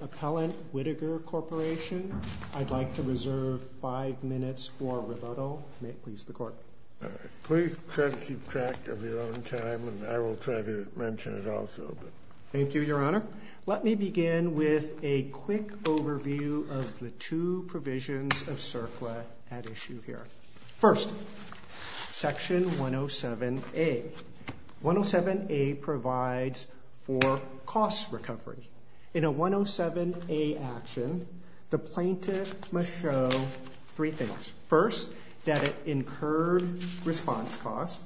Appellant Whittaker Corporation Let me begin with a quick overview of the two provisions of CERCLA at issue here. First, Section 107A. 107A provides for cost recovery. In a 107A action, the plaintiff must show three things. First, that it incurred response costs.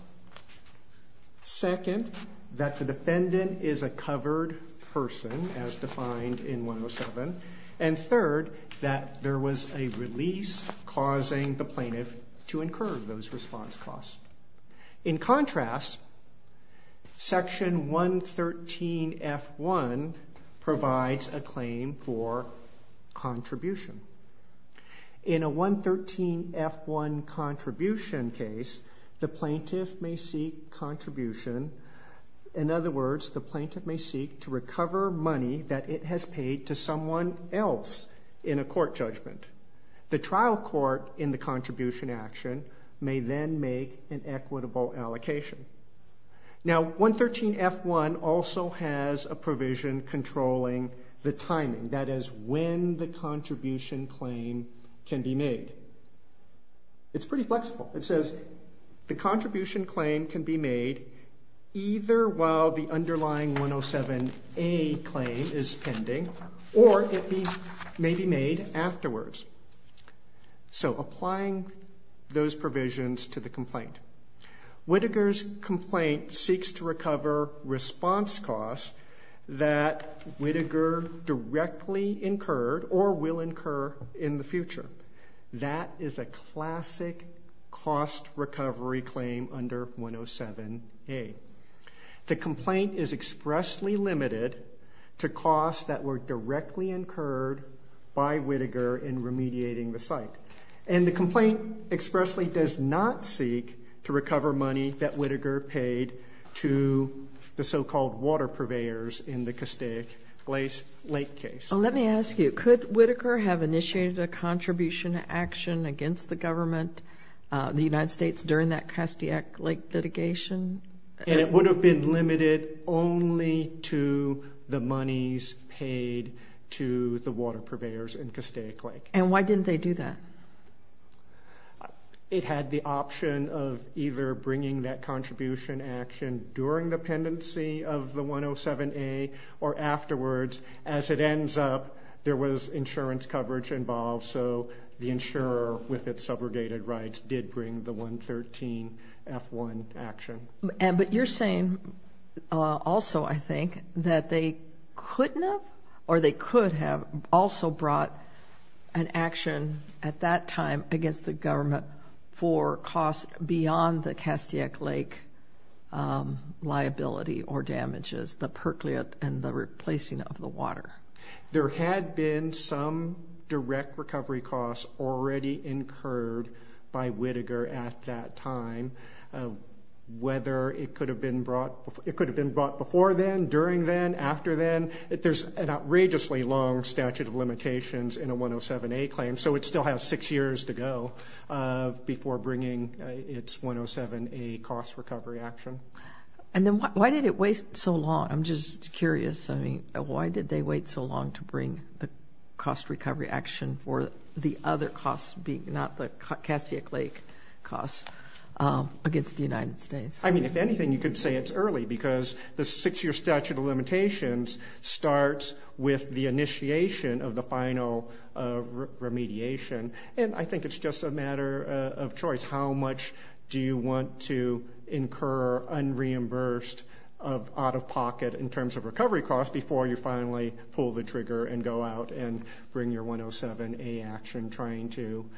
Second, that the defendant is a covered person as defined in 107. And third, that there was a release causing the plaintiff to incur those response costs. In contrast, Section 113F1 provides a claim for contribution. In a 113F1 contribution case, the plaintiff may seek contribution. In other words, the plaintiff may seek to recover money that it has paid to someone else in a court judgment. The trial court in the contribution action may then make an equitable allocation. Now, 113F1 also has a provision controlling the timing. That is when the contribution claim can be made. It's pretty flexible. It says the contribution claim can be made either while the underlying 107A claim is pending or it may be made afterwards. So, applying those provisions to the complaint. Whittaker's complaint seeks to recover response costs that Whittaker directly incurred or will incur in the future. That is a classic cost recovery claim under 107A. The complaint is expressly limited to costs that were directly incurred by Whittaker in remediating the site. And the complaint expressly does not seek to recover money that Whittaker paid to the so-called water purveyors in the Castaic Lake case. Let me ask you, could Whittaker have initiated a contribution action against the government, the United States, during that Castaic Lake litigation? And it would have been limited only to the monies paid to the water purveyors in Castaic Lake. And why didn't they do that? It had the option of either bringing that contribution action during the pendency of the 107A or afterwards. As it ends up, there was insurance coverage involved, so the insurer with its subrogated rights did bring the 113F1 action. But you're saying also, I think, that they couldn't have or they could have also brought an action at that time against the government for costs beyond the Castaic Lake liability or damages, the percolate and the replacing of the water. There had been some direct recovery costs already incurred by Whittaker at that time, whether it could have been brought before then, during then, after then. There's an outrageously long statute of limitations in a 107A claim, so it still has six years to go before bringing its 107A cost recovery action. And then why did it wait so long? I'm just curious. I mean, why did they wait so long to bring the cost recovery action for the other costs, not the Castaic Lake costs, against the United States? I mean, if anything, you could say it's early because the six-year statute of limitations starts with the initiation of the final remediation. And I think it's just a matter of choice. How much do you want to incur unreimbursed out-of-pocket in terms of recovery costs before you finally pull the trigger and go out and bring your 107A action trying to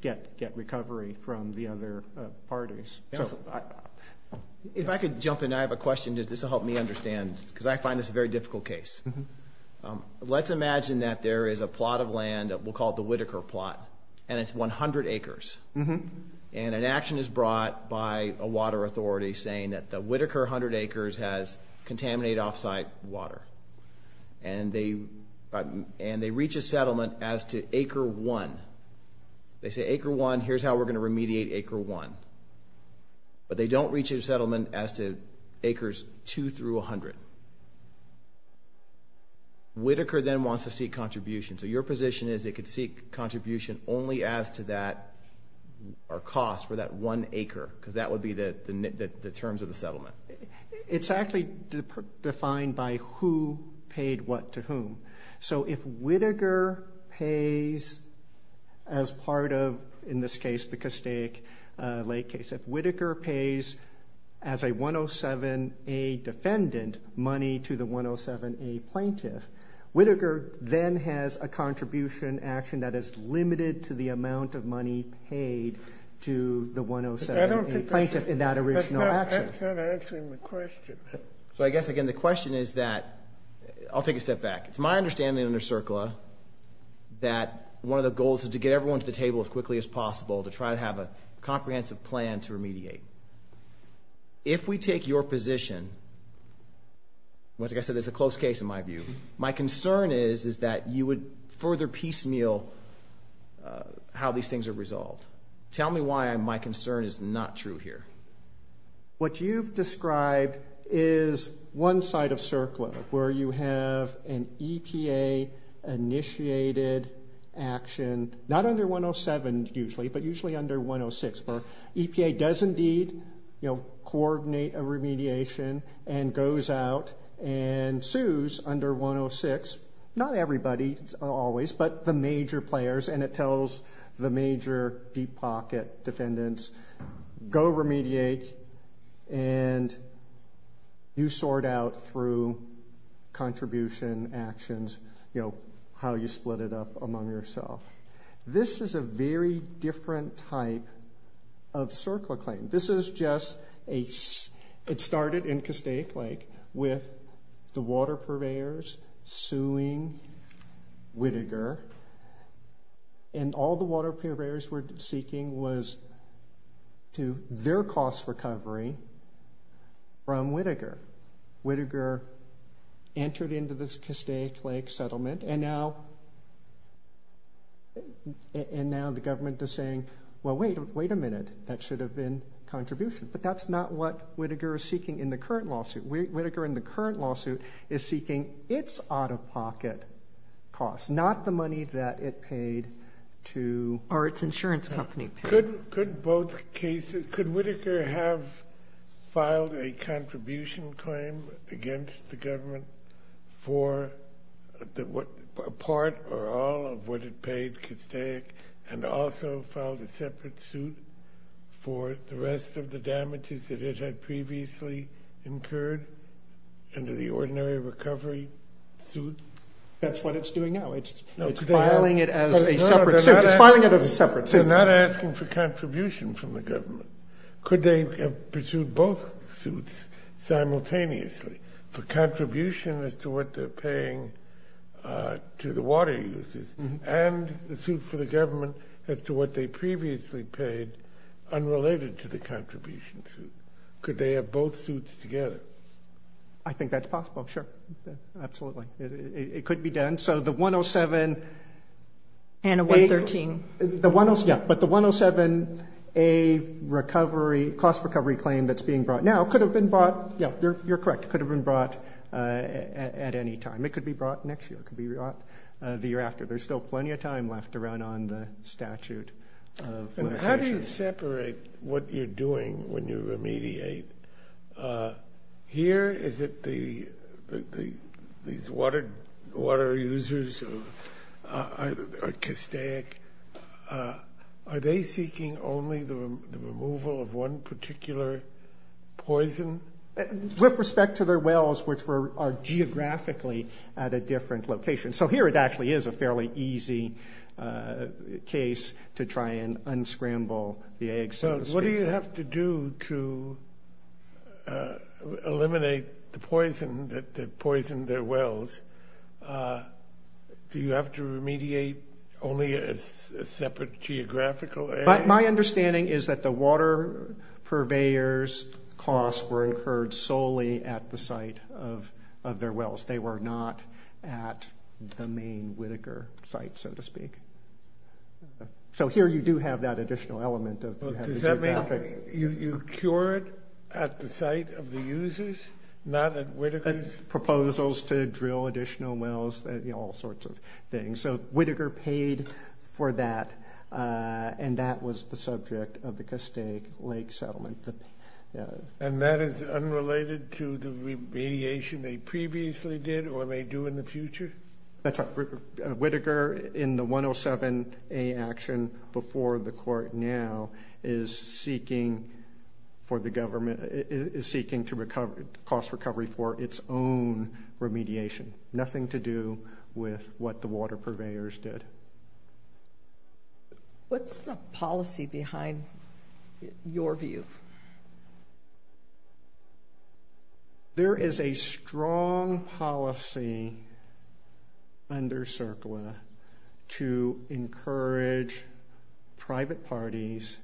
get recovery from the other parties? If I could jump in, I have a question. This will help me understand because I find this a very difficult case. Let's imagine that there is a plot of land that we'll call the Whittaker plot, and it's 100 acres. And an action is brought by a water authority saying that the Whittaker 100 acres has contaminated off-site water. And they reach a settlement as to acre one. They say acre one, here's how we're going to remediate acre one. But they don't reach a settlement as to acres two through 100. Whittaker then wants to seek contribution. So your position is it could seek contribution only as to that or cost for that one acre because that would be the terms of the settlement. It's actually defined by who paid what to whom. So if Whittaker pays as part of, in this case, the Castaic Lake case, if Whittaker pays as a 107A defendant money to the 107A plaintiff, Whittaker then has a contribution action that is limited to the amount of money paid to the 107A plaintiff in that original action. That's not answering the question. So I guess, again, the question is that – I'll take a step back. It's my understanding under CERCLA that one of the goals is to get everyone to the table as quickly as possible to try to have a comprehensive plan to remediate. If we take your position, like I said, there's a close case in my view. My concern is that you would further piecemeal how these things are resolved. Tell me why my concern is not true here. What you've described is one side of CERCLA where you have an EPA-initiated action, not under 107 usually, but usually under 106, where EPA does indeed coordinate a remediation and goes out and sues under 106, not everybody always, but the major players, and it tells the major deep pocket defendants, go remediate, and you sort out through contribution actions how you split it up among yourself. This is a very different type of CERCLA claim. This is just a – it started in Castaic Lake with the water purveyors suing Whittaker, and all the water purveyors were seeking was their cost recovery from Whittaker. Whittaker entered into this Castaic Lake settlement, and now the government is saying, well, wait a minute, that should have been contribution, but that's not what Whittaker is seeking in the current lawsuit. Whittaker in the current lawsuit is seeking its out-of-pocket costs, not the money that it paid to – Or its insurance company. Could both cases – could Whittaker have filed a contribution claim against the government for part or all of what it paid Castaic and also filed a separate suit for the rest of the damages that it had previously incurred under the ordinary recovery suit? That's what it's doing now. It's filing it as a separate suit. It's filing it as a separate suit. So not asking for contribution from the government. Could they have pursued both suits simultaneously for contribution as to what they're paying to the water users and the suit for the government as to what they previously paid unrelated to the contribution suit? Could they have both suits together? I think that's possible, sure. Absolutely. It could be done. And a 113. Yeah, but the 107A cost recovery claim that's being brought now could have been brought – yeah, you're correct. It could have been brought at any time. It could be brought next year. It could be brought the year after. There's still plenty of time left to run on the statute of limitations. How do you separate what you're doing when you remediate? Here, is it these water users or Castaic? Are they seeking only the removal of one particular poison? With respect to their wells, which are geographically at a different location. So here it actually is a fairly easy case to try and unscramble the eggs, so to speak. What do you have to do to eliminate the poison that poisoned their wells? Do you have to remediate only a separate geographical area? My understanding is that the water purveyors' costs were incurred solely at the site of their wells. They were not at the main Whitaker site, so to speak. So here you do have that additional element. Does that mean you cure it at the site of the users, not at Whitaker's? Proposals to drill additional wells, all sorts of things. So Whitaker paid for that, and that was the subject of the Castaic Lake settlement. And that is unrelated to the remediation they previously did or may do in the future? That's right. Whitaker, in the 107A action before the court now, is seeking to cost recovery for its own remediation. Nothing to do with what the water purveyors did. What's the policy behind your view? There is a strong policy under CERCLA to encourage private parties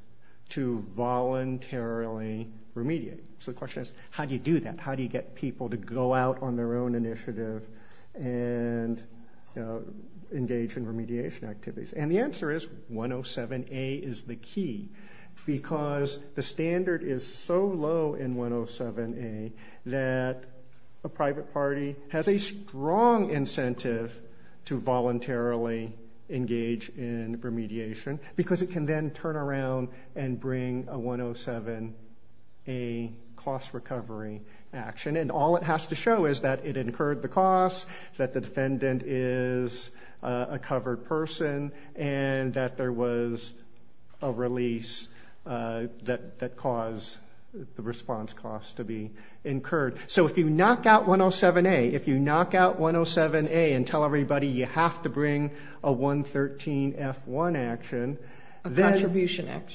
to voluntarily remediate. So the question is, how do you do that? How do you get people to go out on their own initiative and engage in remediation activities? And the answer is 107A is the key because the standard is so low in 107A that a private party has a strong incentive to voluntarily engage in remediation because it can then turn around and bring a 107A cost recovery action. And all it has to show is that it incurred the cost, that the defendant is a covered person, and that there was a release that caused the response cost to be incurred. So if you knock out 107A and tell everybody you have to bring a 113F1 action, a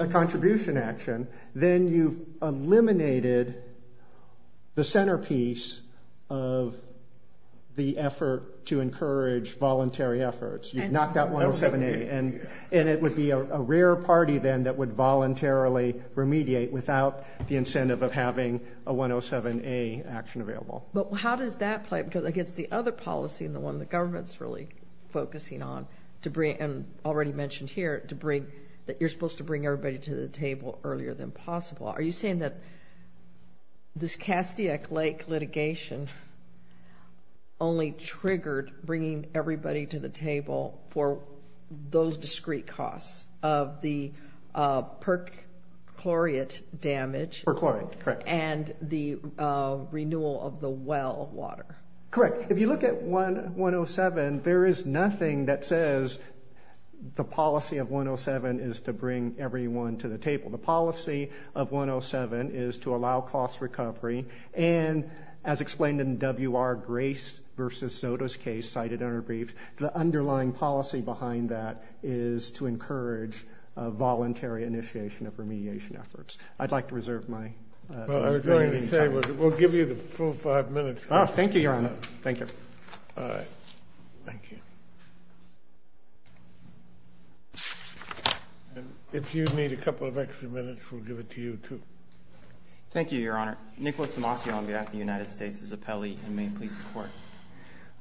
contribution action, then you've eliminated the centerpiece of the effort to encourage voluntary efforts. You've knocked out 107A. And it would be a rare party then that would voluntarily remediate without the incentive of having a 107A action available. But how does that play? Because I guess the other policy and the one the government is really focusing on, and already mentioned here, that you're supposed to bring everybody to the table earlier than possible. Are you saying that this Castiac Lake litigation only triggered bringing everybody to the table for those discrete costs of the perchlorate damage and the renewal of the well water? Correct. If you look at 107, there is nothing that says the policy of 107 is to bring everyone to the table. The policy of 107 is to allow cost recovery. And as explained in W.R. Grace v. Soto's case cited in her brief, the underlying policy behind that is to encourage voluntary initiation of remediation efforts. I'd like to reserve my time. Well, I was going to say we'll give you the full five minutes. Thank you, Your Honor. Thank you. All right. Thank you. If you need a couple of extra minutes, we'll give it to you, too. Thank you, Your Honor. Nicholas Demasi on behalf of the United States is appellee and may please report.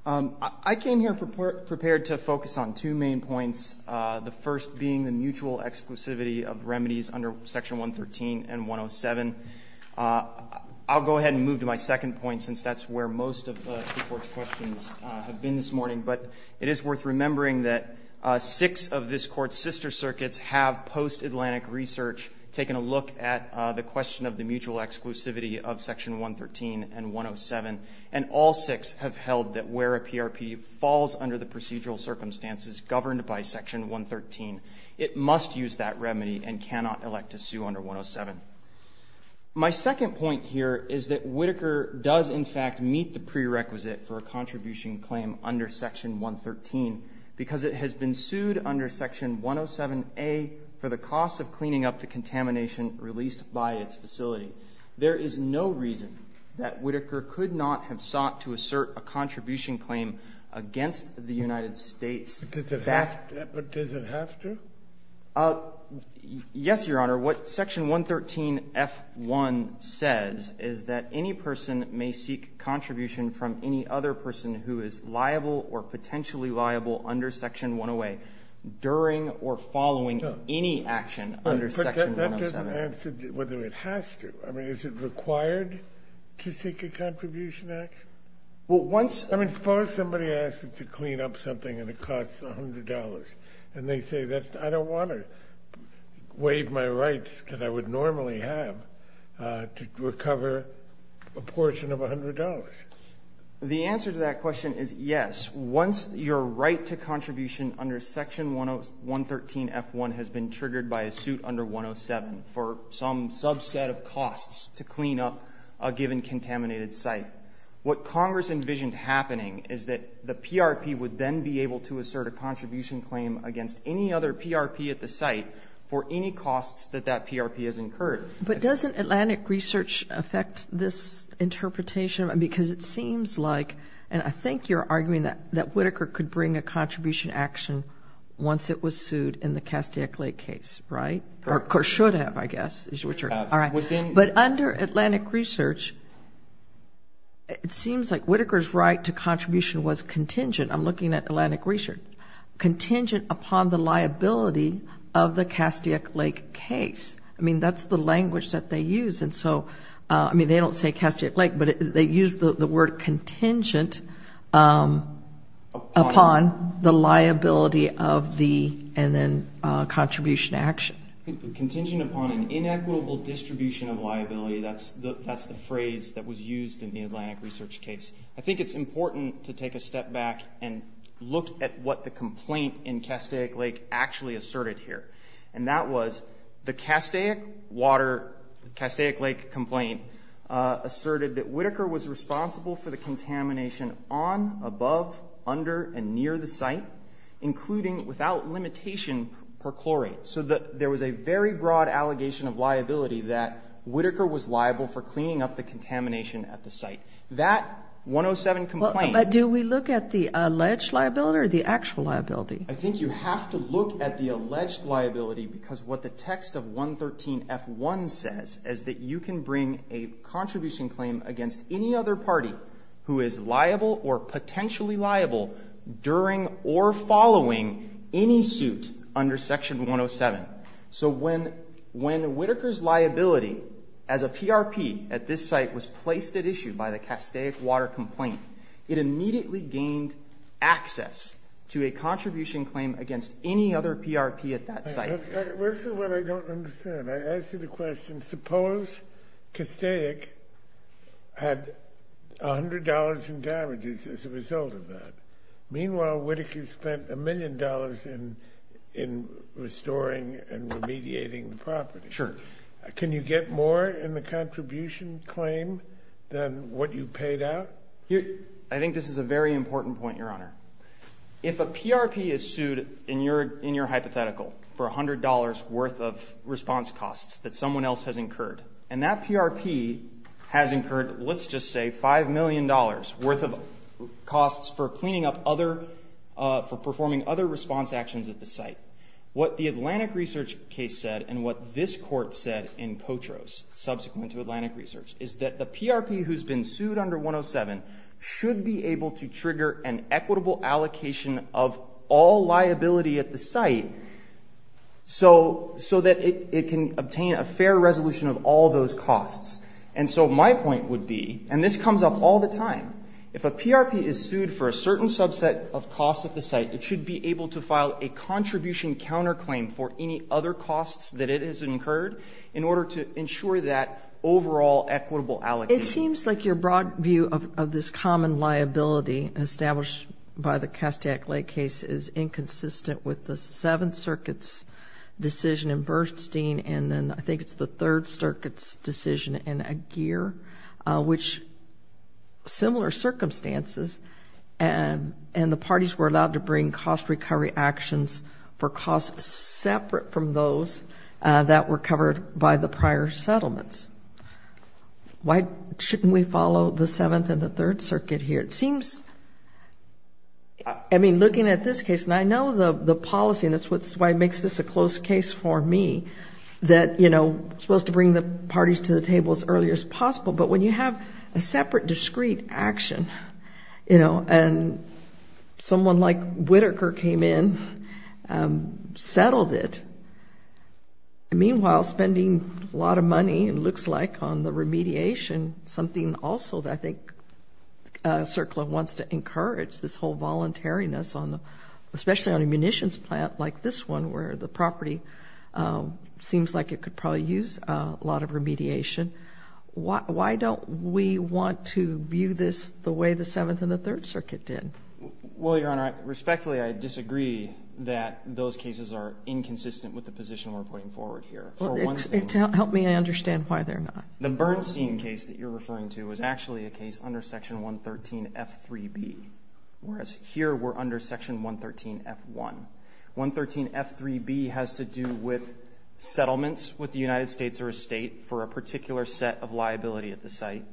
I came here prepared to focus on two main points, the first being the mutual exclusivity of remedies under Section 113 and 107. I'll go ahead and move to my second point since that's where most of the Court's questions have been this morning, but it is worth remembering that six of this Court's sister circuits have post-Atlantic research taken a look at the question of the mutual exclusivity of Section 113 and 107, and all six have held that where a PRP falls under the procedural circumstances governed by Section 113, it must use that remedy and cannot elect to sue under 107. My second point here is that Whitaker does, in fact, meet the prerequisite for a contribution claim under Section 113 because it has been sued under Section 107A for the cost of cleaning up the contamination released by its facility. There is no reason that Whitaker could not have sought to assert a contribution claim against the United States. But does it have to? Yes, Your Honor. What Section 113)(f)(1 says is that any person may seek contribution from any other person who is liable or potentially liable under Section 108 during or following any action under Section 107. But that doesn't answer whether it has to. I mean, is it required to seek a contribution action? Well, once you have a contribution action. And they say, I don't want to waive my rights that I would normally have to recover a portion of $100. The answer to that question is yes. Once your right to contribution under Section 113)(f)(1 has been triggered by a suit under 107 for some subset of costs to clean up a given contaminated site, what Congress envisioned happening is that the PRP would then be able to assert a contribution claim against any other PRP at the site for any costs that that PRP has incurred. But doesn't Atlantic Research affect this interpretation? Because it seems like, and I think you're arguing that Whitaker could bring a contribution action once it was sued in the Castaic Lake case, right? Or should have, I guess, is what you're saying. But under Atlantic Research, it seems like Whitaker's right to contribution was contingent, I'm looking at Atlantic Research, contingent upon the liability of the Castaic Lake case. I mean, that's the language that they use. And so, I mean, they don't say Castaic Lake, but they use the word contingent upon the liability of the, and then contribution action. Contingent upon an inequitable distribution of liability, that's the phrase that was used in the Atlantic Research case. I think it's important to take a step back and look at what the complaint in Castaic Lake actually asserted here. And that was the Castaic Lake complaint asserted that Whitaker was responsible for the contamination on, above, under, and near the site, including without limitation per chlorate. So there was a very broad allegation of liability that Whitaker was liable for cleaning up the contamination at the site. That 107 complaint. But do we look at the alleged liability or the actual liability? I think you have to look at the alleged liability, because what the text of 113F1 says is that you can bring a contribution claim against any other party who is liable or potentially liable during or following any suit under Section 107. So when Whitaker's liability as a PRP at this site was placed at issue by the Castaic Water complaint, it immediately gained access to a contribution claim against any other PRP at that site. This is what I don't understand. I ask you the question, suppose Castaic had $100 in damages as a result of that. Meanwhile, Whitaker spent $1 million in restoring and remediating the property. Sure. Can you get more in the contribution claim than what you paid out? I think this is a very important point, Your Honor. If a PRP is sued in your hypothetical for $100 worth of response costs that someone else has incurred, and that PRP has incurred, let's just say, $5 million worth of costs for cleaning up other, for performing other response actions at the site, what the Atlantic Research case said and what this court said in Potros, subsequent to Atlantic Research, is that the PRP who's been sued under 107 should be able to file an equitable allocation of all liability at the site so that it can obtain a fair resolution of all those costs. And so my point would be, and this comes up all the time, if a PRP is sued for a certain subset of costs at the site, it should be able to file a contribution counterclaim for any other costs that it has incurred in order to ensure that overall equitable allocation. It seems like your broad view of this common liability established by the Kastiak-Lake case is inconsistent with the Seventh Circuit's decision in Bernstein, and then I think it's the Third Circuit's decision in Aguirre, which similar circumstances, and the parties were allowed to bring cost recovery actions for costs separate from those that were covered by the prior settlements. Why shouldn't we follow the Seventh and the Third Circuit here? It seems, I mean, looking at this case, and I know the policy, and that's why it makes this a close case for me, that, you know, we're supposed to bring the parties to the table as early as possible, but when you have a separate discrete action, you know, and someone like Whitaker came in, settled it, and meanwhile, spending a lot of money, it looks like, on the remediation, something also that I think CERCLA wants to encourage, this whole voluntariness on the, especially on a munitions plant like this one where the property seems like it could probably use a lot of remediation. Why don't we want to view this the way the Seventh and the Third Circuit did? Well, Your Honor, respectfully, I disagree that those cases are inconsistent with the position we're putting forward here. To help me understand why they're not. The Bernstein case that you're referring to is actually a case under Section 113F3B, whereas here we're under Section 113F1. 113F3B has to do with settlements with the United States or a state for a particular set of liability at the site.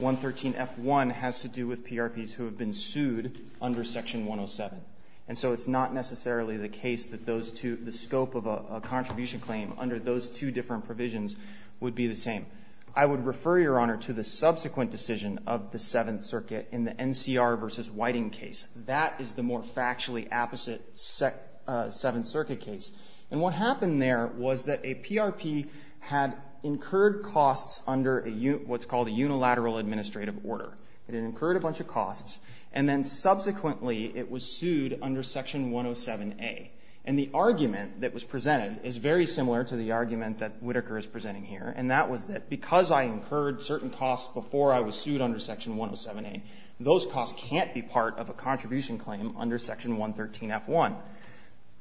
113F1 has to do with PRPs who have been sued under Section 107, and so it's not necessarily the case that those two, the scope of a contribution claim under those two different provisions would be the same. I would refer, Your Honor, to the subsequent decision of the Seventh Circuit in the NCR v. Whiting case. That is the more factually opposite Seventh Circuit case. And what happened there was that a PRP had incurred costs under what's called a unilateral administrative order. It incurred a bunch of costs and then subsequently it was sued under Section 107A. And the argument that was presented is very similar to the argument that Whitaker is presenting here, and that was that because I incurred certain costs before I was sued under Section 107A, those costs can't be part of a contribution claim under Section 113F1.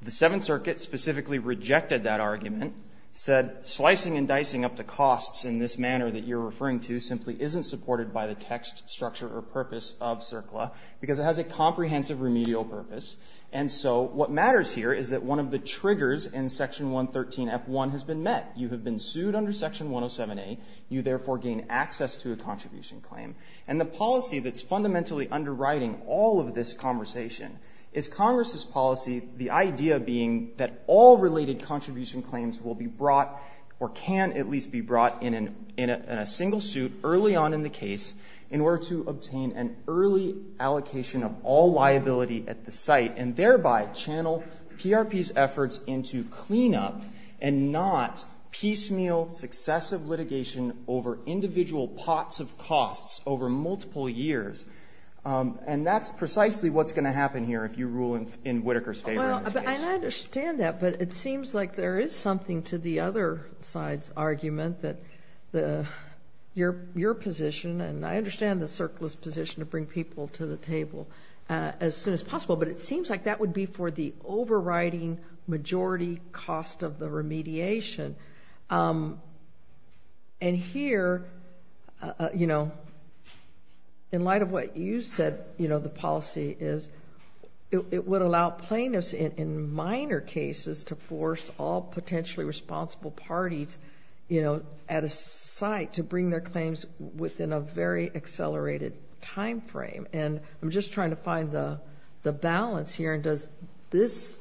The Seventh Circuit specifically rejected that argument, said slicing and dicing up the costs in this manner that you're referring to simply isn't supported by the text, structure, or purpose of CERCLA because it has a comprehensive remedial purpose. And so what matters here is that one of the triggers in Section 113F1 has been met. You have been sued under Section 107A. You, therefore, gain access to a contribution claim. And the policy that's fundamentally underwriting all of this conversation is Congress's policy, the idea being that all related contribution claims will be brought or can at least be brought in a single suit early on in the case in order to obtain an early allocation of all liability at the site and thereby channel PRP's efforts into cleanup and not piecemeal, successive litigation over individual pots of costs over multiple years. And that's precisely what's going to happen here if you rule in Whitaker's favor in this case. I understand that, but it seems like there is something to the other side's argument that your position, and I understand the CERCLA's position to bring people to the table as soon as possible, but it seems like that would be for the overriding majority cost of the remediation. And here, in light of what you said the policy is, it would allow plaintiffs in minor cases to force all potentially responsible parties, you know, at a site to bring their claims within a very accelerated time frame. And I'm just trying to find the balance here. And does this,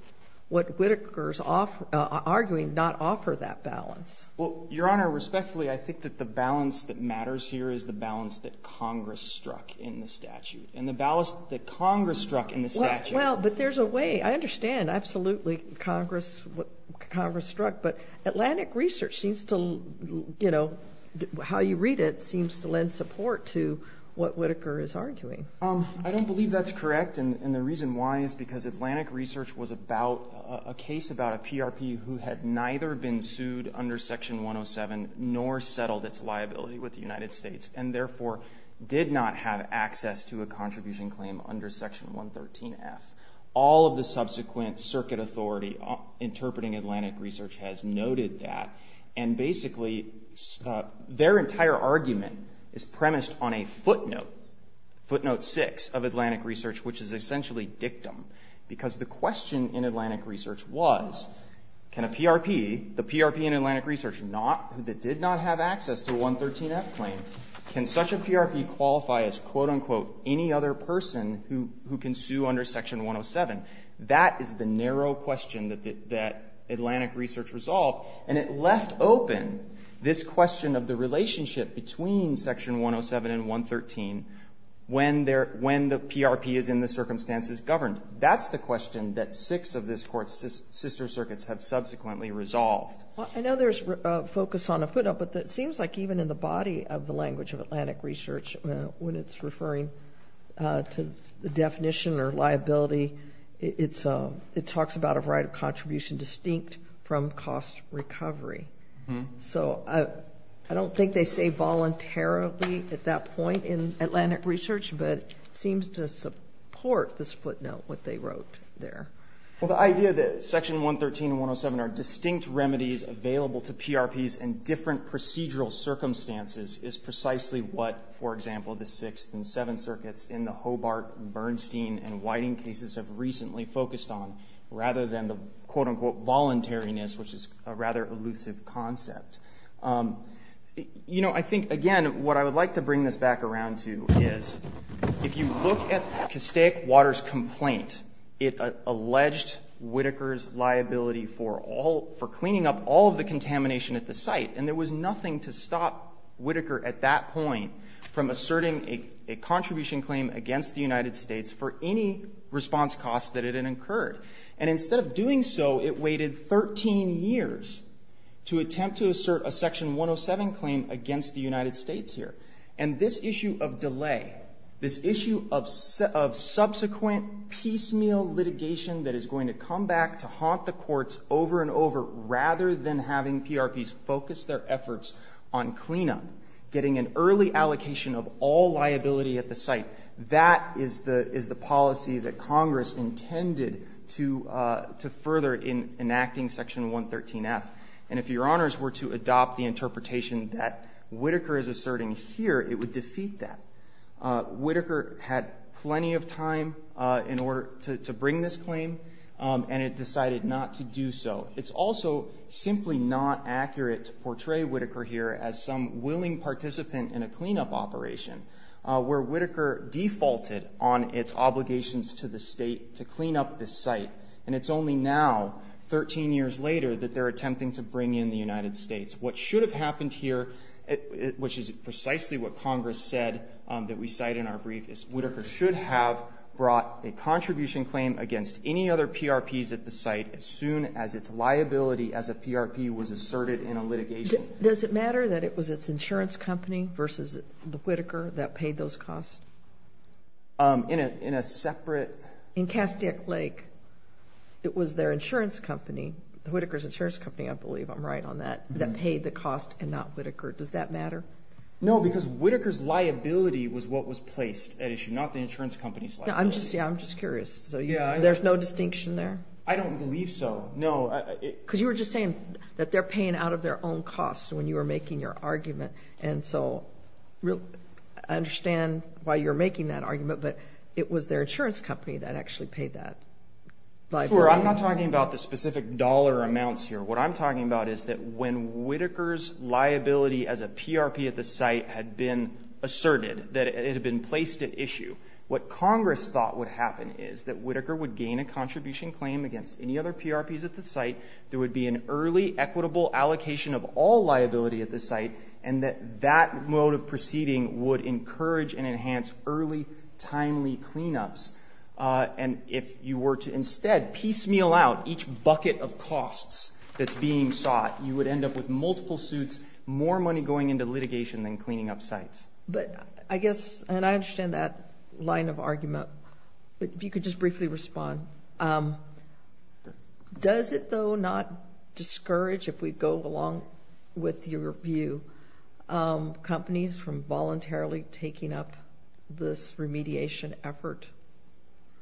what Whitaker's arguing, not offer that balance? Well, Your Honor, respectfully, I think that the balance that matters here is the balance that Congress struck in the statute. I understand. Absolutely, Congress struck. But Atlantic Research seems to, you know, how you read it seems to lend support to what Whitaker is arguing. I don't believe that's correct, and the reason why is because Atlantic Research was about a case about a PRP who had neither been sued under Section 107 nor settled its liability with the United States, and therefore did not have access to a contribution claim under Section 113F. All of the subsequent circuit authority interpreting Atlantic Research has noted that, and basically their entire argument is premised on a footnote, footnote 6 of Atlantic Research, which is essentially dictum. Because the question in Atlantic Research was, can a PRP, the PRP in Atlantic Research not, that did not have access to 113F claim, can such a PRP qualify as, quote, unquote, any other person who can sue under Section 107? That is the narrow question that Atlantic Research resolved, and it left open this question of the relationship between Section 107 and 113 when the PRP is in the circumstances governed. That's the question that six of this Court's sister circuits have subsequently resolved. I know there's focus on a footnote, but it seems like even in the body of the language of Atlantic Research, when it's referring to the definition or liability, it talks about a right of contribution distinct from cost recovery. So I don't think they say voluntarily at that point in Atlantic Research, but it seems to support this footnote, what they wrote there. Well, the idea that Section 113 and 107 are distinct remedies available to PRPs in different procedural circumstances is precisely what, for example, the Sixth and Seventh Circuits in the Hobart, Bernstein, and Whiting cases have recently focused on, rather than the, quote, unquote, voluntariness, which is a rather elusive concept. You know, I think, again, what I would like to bring this back around to is, if you look at Castaic Water's complaint, it alleged Whitaker's liability for all, for sight, and there was nothing to stop Whitaker at that point from asserting a contribution claim against the United States for any response costs that it had incurred. And instead of doing so, it waited 13 years to attempt to assert a Section 107 claim against the United States here. And this issue of delay, this issue of subsequent piecemeal litigation that is going to come back to haunt the courts over and over, rather than having PRPs focus their efforts on cleanup, getting an early allocation of all liability at the site, that is the policy that Congress intended to further in enacting Section 113-F. And if Your Honors were to adopt the interpretation that Whitaker is asserting here, it would defeat that. Whitaker had plenty of time in order to bring this claim, and it decided not to do so. It's also simply not accurate to portray Whitaker here as some willing participant in a cleanup operation, where Whitaker defaulted on its obligations to the state to clean up this site, and it's only now, 13 years later, that they're attempting to bring in the United States. What should have happened here, which is precisely what Congress said that we cite in our brief, is Whitaker should have brought a contribution claim against any other PRPs at the site as soon as its liability as a PRP was asserted in a litigation. Does it matter that it was its insurance company versus the Whitaker that paid those costs? In a separate? In Kastiek Lake, it was their insurance company, the Whitaker's insurance company, I believe I'm right on that, that paid the cost and not Whitaker. Does that matter? No, because Whitaker's liability was what was placed at issue, not the insurance company's liability. I'm just curious. There's no distinction there? I don't believe so. No. Because you were just saying that they're paying out of their own costs when you were making your argument, and so I understand why you're making that argument, but it was their insurance company that actually paid that liability. Sure. I'm not talking about the specific dollar amounts here. What I'm talking about is that when Whitaker's liability as a PRP at the site had been asserted, that it had been placed at issue, what Congress thought would happen is that Whitaker would gain a contribution claim against any other PRPs at the site, there would be an early equitable allocation of all liability at the site, and that that mode of proceeding would encourage and enhance early, timely cleanups. And if you were to instead piecemeal out each bucket of costs that's being sought, you would end up with multiple suits, more money going into litigation than cleaning up sites. But I guess, and I understand that line of argument, but if you could just briefly respond, does it, though, not discourage, if we go along with your view, companies from voluntarily taking up this remediation effort?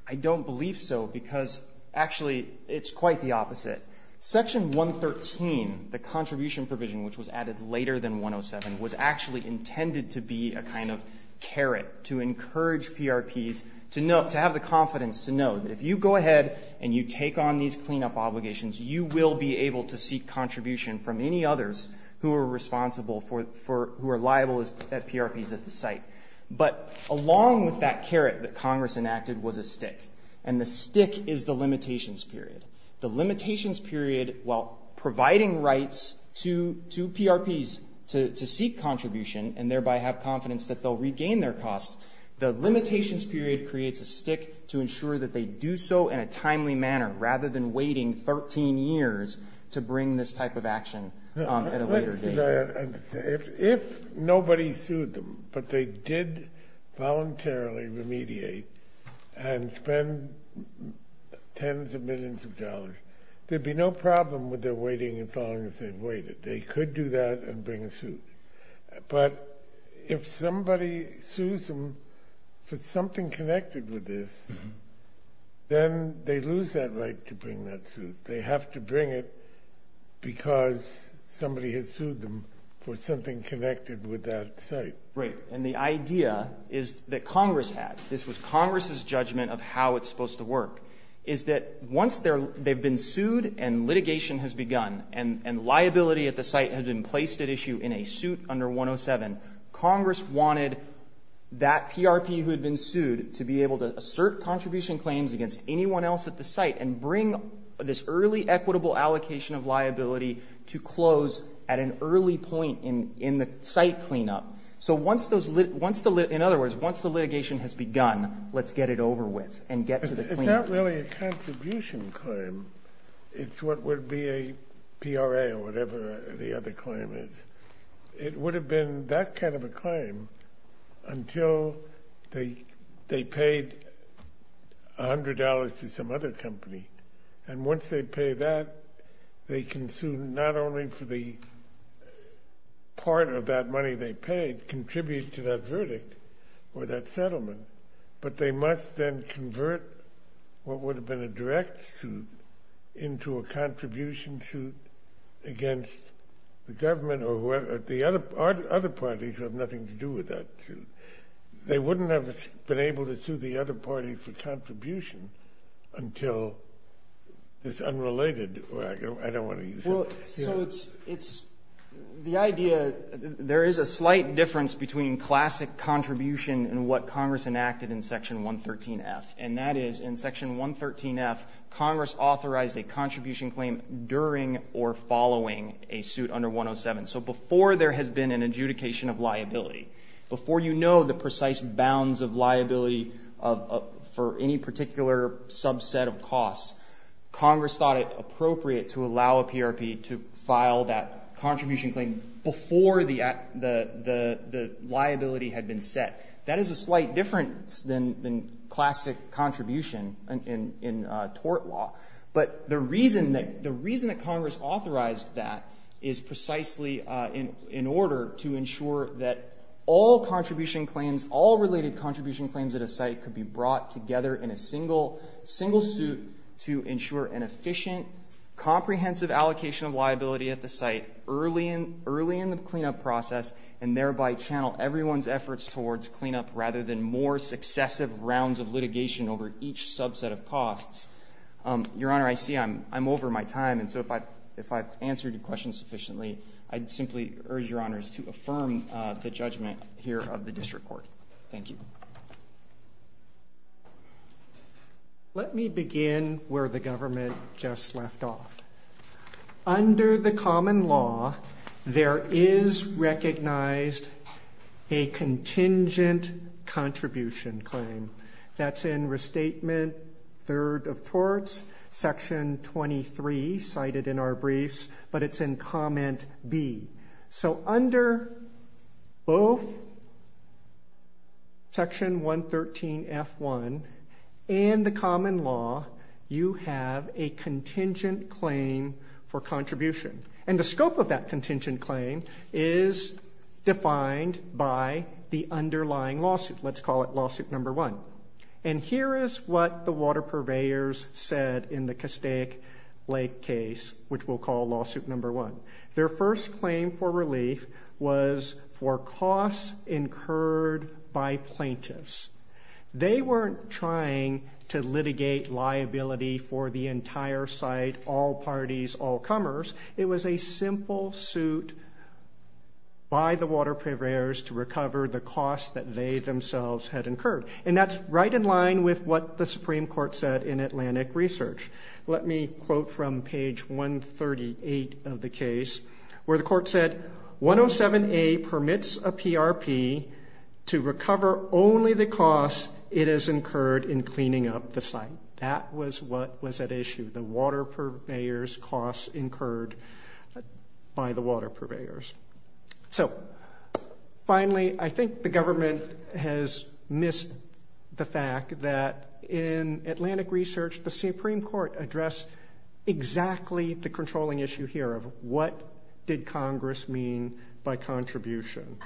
I don't believe so, because, actually, it's quite the opposite. Section 113, the contribution provision, which was added later than 107, was actually intended to be a kind of carrot to encourage PRPs to have the confidence to know that if you go ahead and you take on these cleanup obligations, you will be But along with that carrot that Congress enacted was a stick. And the stick is the limitations period. The limitations period, while providing rights to PRPs to seek contribution and thereby have confidence that they'll regain their costs, the limitations period creates a stick to ensure that they do so in a timely manner, rather than waiting 13 years to bring this type of action at a later date. If nobody sued them, but they did voluntarily remediate and spend tens of millions of dollars, there'd be no problem with their waiting as long as they waited. They could do that and bring a suit. But if somebody sues them for something connected with this, then they lose that right to bring that suit. They have to bring it because somebody has sued them for something connected with that site. Right. And the idea is that Congress has. This was Congress's judgment of how it's supposed to work, is that once they've been sued and litigation has begun and liability at the site has been placed at issue in a suit under 107, Congress wanted that PRP who had been sued to be able to assert contribution claims against anyone else at the site and bring this early equitable allocation of liability to close at an early point in the site cleanup. So once the litigation has begun, let's get it over with and get to the cleanup. It's not really a contribution claim. It's what would be a PRA or whatever the other claim is. It would have been that kind of a claim until they paid $100 to some other company. And once they pay that, they can sue not only for the part of that money they paid, contribute to that verdict or that settlement, but they must then convert what would have been a direct suit into a contribution suit against the government or the other parties have nothing to do with that. They wouldn't have been able to sue the other parties for contribution until this unrelated or I don't want to use it here. Well, so it's the idea, there is a slight difference between classic contribution and what Congress enacted in Section 113F, and that is in Section 113F, Congress authorized a contribution claim during or following a suit under 107. So before there has been an adjudication of liability, before you know the precise bounds of liability for any particular subset of costs, Congress thought it appropriate to allow a PRP to file that contribution claim before the liability had been set. That is a slight difference than classic contribution in tort law. But the reason that Congress authorized that is precisely in order to ensure that all contribution claims, all related contribution claims at a site could be brought together in a single suit to ensure an efficient, comprehensive allocation of liability at the site early in the cleanup process and thereby channel everyone's efforts towards cleanup rather than more successive rounds of litigation over each subset of costs. Your Honor, I see I'm over my time, and so if I've answered your question sufficiently, I'd simply urge Your Honors to affirm the judgment here of the district court. Thank you. Let me begin where the government just left off. Under the common law, there is recognized a contingent contribution claim. That's in Restatement Third of Torts, Section 23 cited in our briefs, but it's in Comment B. So under both Section 113F1 and the common law, you have a contingent claim for contribution. And the scope of that contingent claim is defined by the underlying lawsuit. Let's call it Lawsuit Number 1. And here is what the water purveyors said in the Castaic Lake case, which we'll call Lawsuit Number 1. Their first claim for relief was for costs incurred by plaintiffs. They weren't trying to litigate liability for the entire site, all parties, all comers. It was a simple suit by the water purveyors to recover the costs that they themselves had incurred. And that's right in line with what the Supreme Court said in Atlantic Research. Let me quote from page 138 of the case where the court said, 107A permits a PRP to recover only the costs it has incurred in cleaning up the site. That was what was at issue, the water purveyors' costs incurred by the water purveyors. So finally, I think the government has missed the fact that in Atlantic Research the Supreme Court addressed exactly the controlling issue here of what did Congress mean by contribution.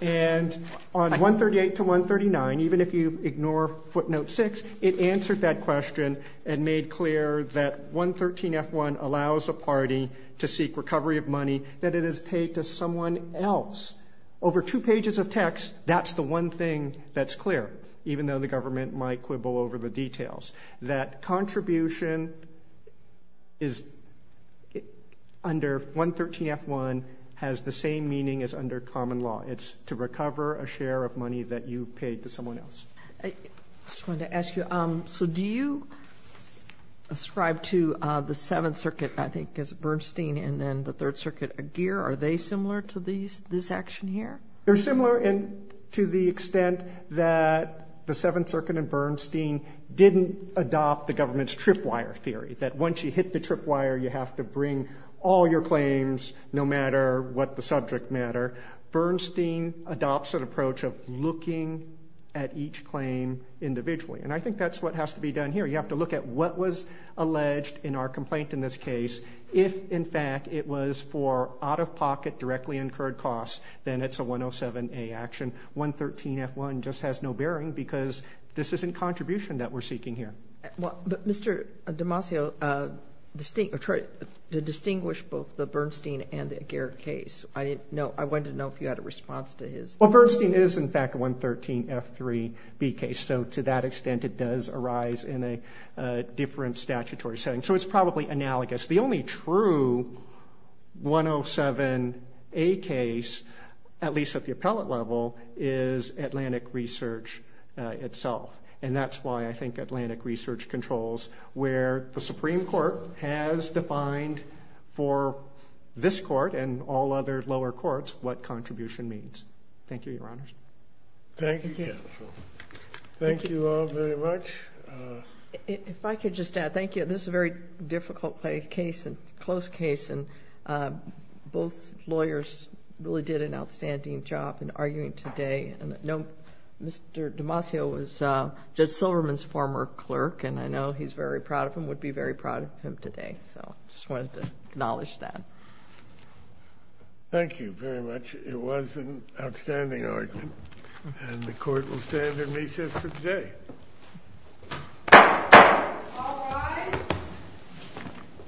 And on 138 to 139, even if you ignore footnote 6, it answered that question and made clear that 113F1 allows a party to seek recovery of money that it has paid to someone else. Over two pages of text, that's the one thing that's clear, even though the contribution is under 113F1 has the same meaning as under common law. It's to recover a share of money that you paid to someone else. I just wanted to ask you, so do you ascribe to the Seventh Circuit, I think, as Bernstein and then the Third Circuit a gear? Are they similar to this action here? They're similar to the extent that the Seventh Circuit and Bernstein didn't adopt the government's tripwire theory, that once you hit the tripwire you have to bring all your claims no matter what the subject matter. Bernstein adopts an approach of looking at each claim individually. And I think that's what has to be done here. You have to look at what was alleged in our complaint in this case. If, in fact, it was for out-of-pocket directly incurred costs, then it's a 107A action. 113F1 just has no bearing because this isn't contribution that we're seeking here. Mr. Damasio, to distinguish both the Bernstein and the gear case, I wanted to know if you had a response to his. Well, Bernstein is, in fact, a 113F3B case. So to that extent it does arise in a different statutory setting. So it's probably analogous. The only true 107A case, at least at the appellate level, is Atlantic Research itself. And that's why I think Atlantic Research controls where the Supreme Court has defined for this court and all other lower courts what contribution means. Thank you, Your Honors. Thank you, counsel. Thank you all very much. If I could just add, thank you. This is a very difficult case and close case. And both lawyers really did an outstanding job in arguing today. Mr. Damasio was Judge Silverman's former clerk. And I know he's very proud of him, would be very proud of him today. So I just wanted to acknowledge that. Thank you very much. It was an outstanding argument. And the court will stand in recess for today. All rise.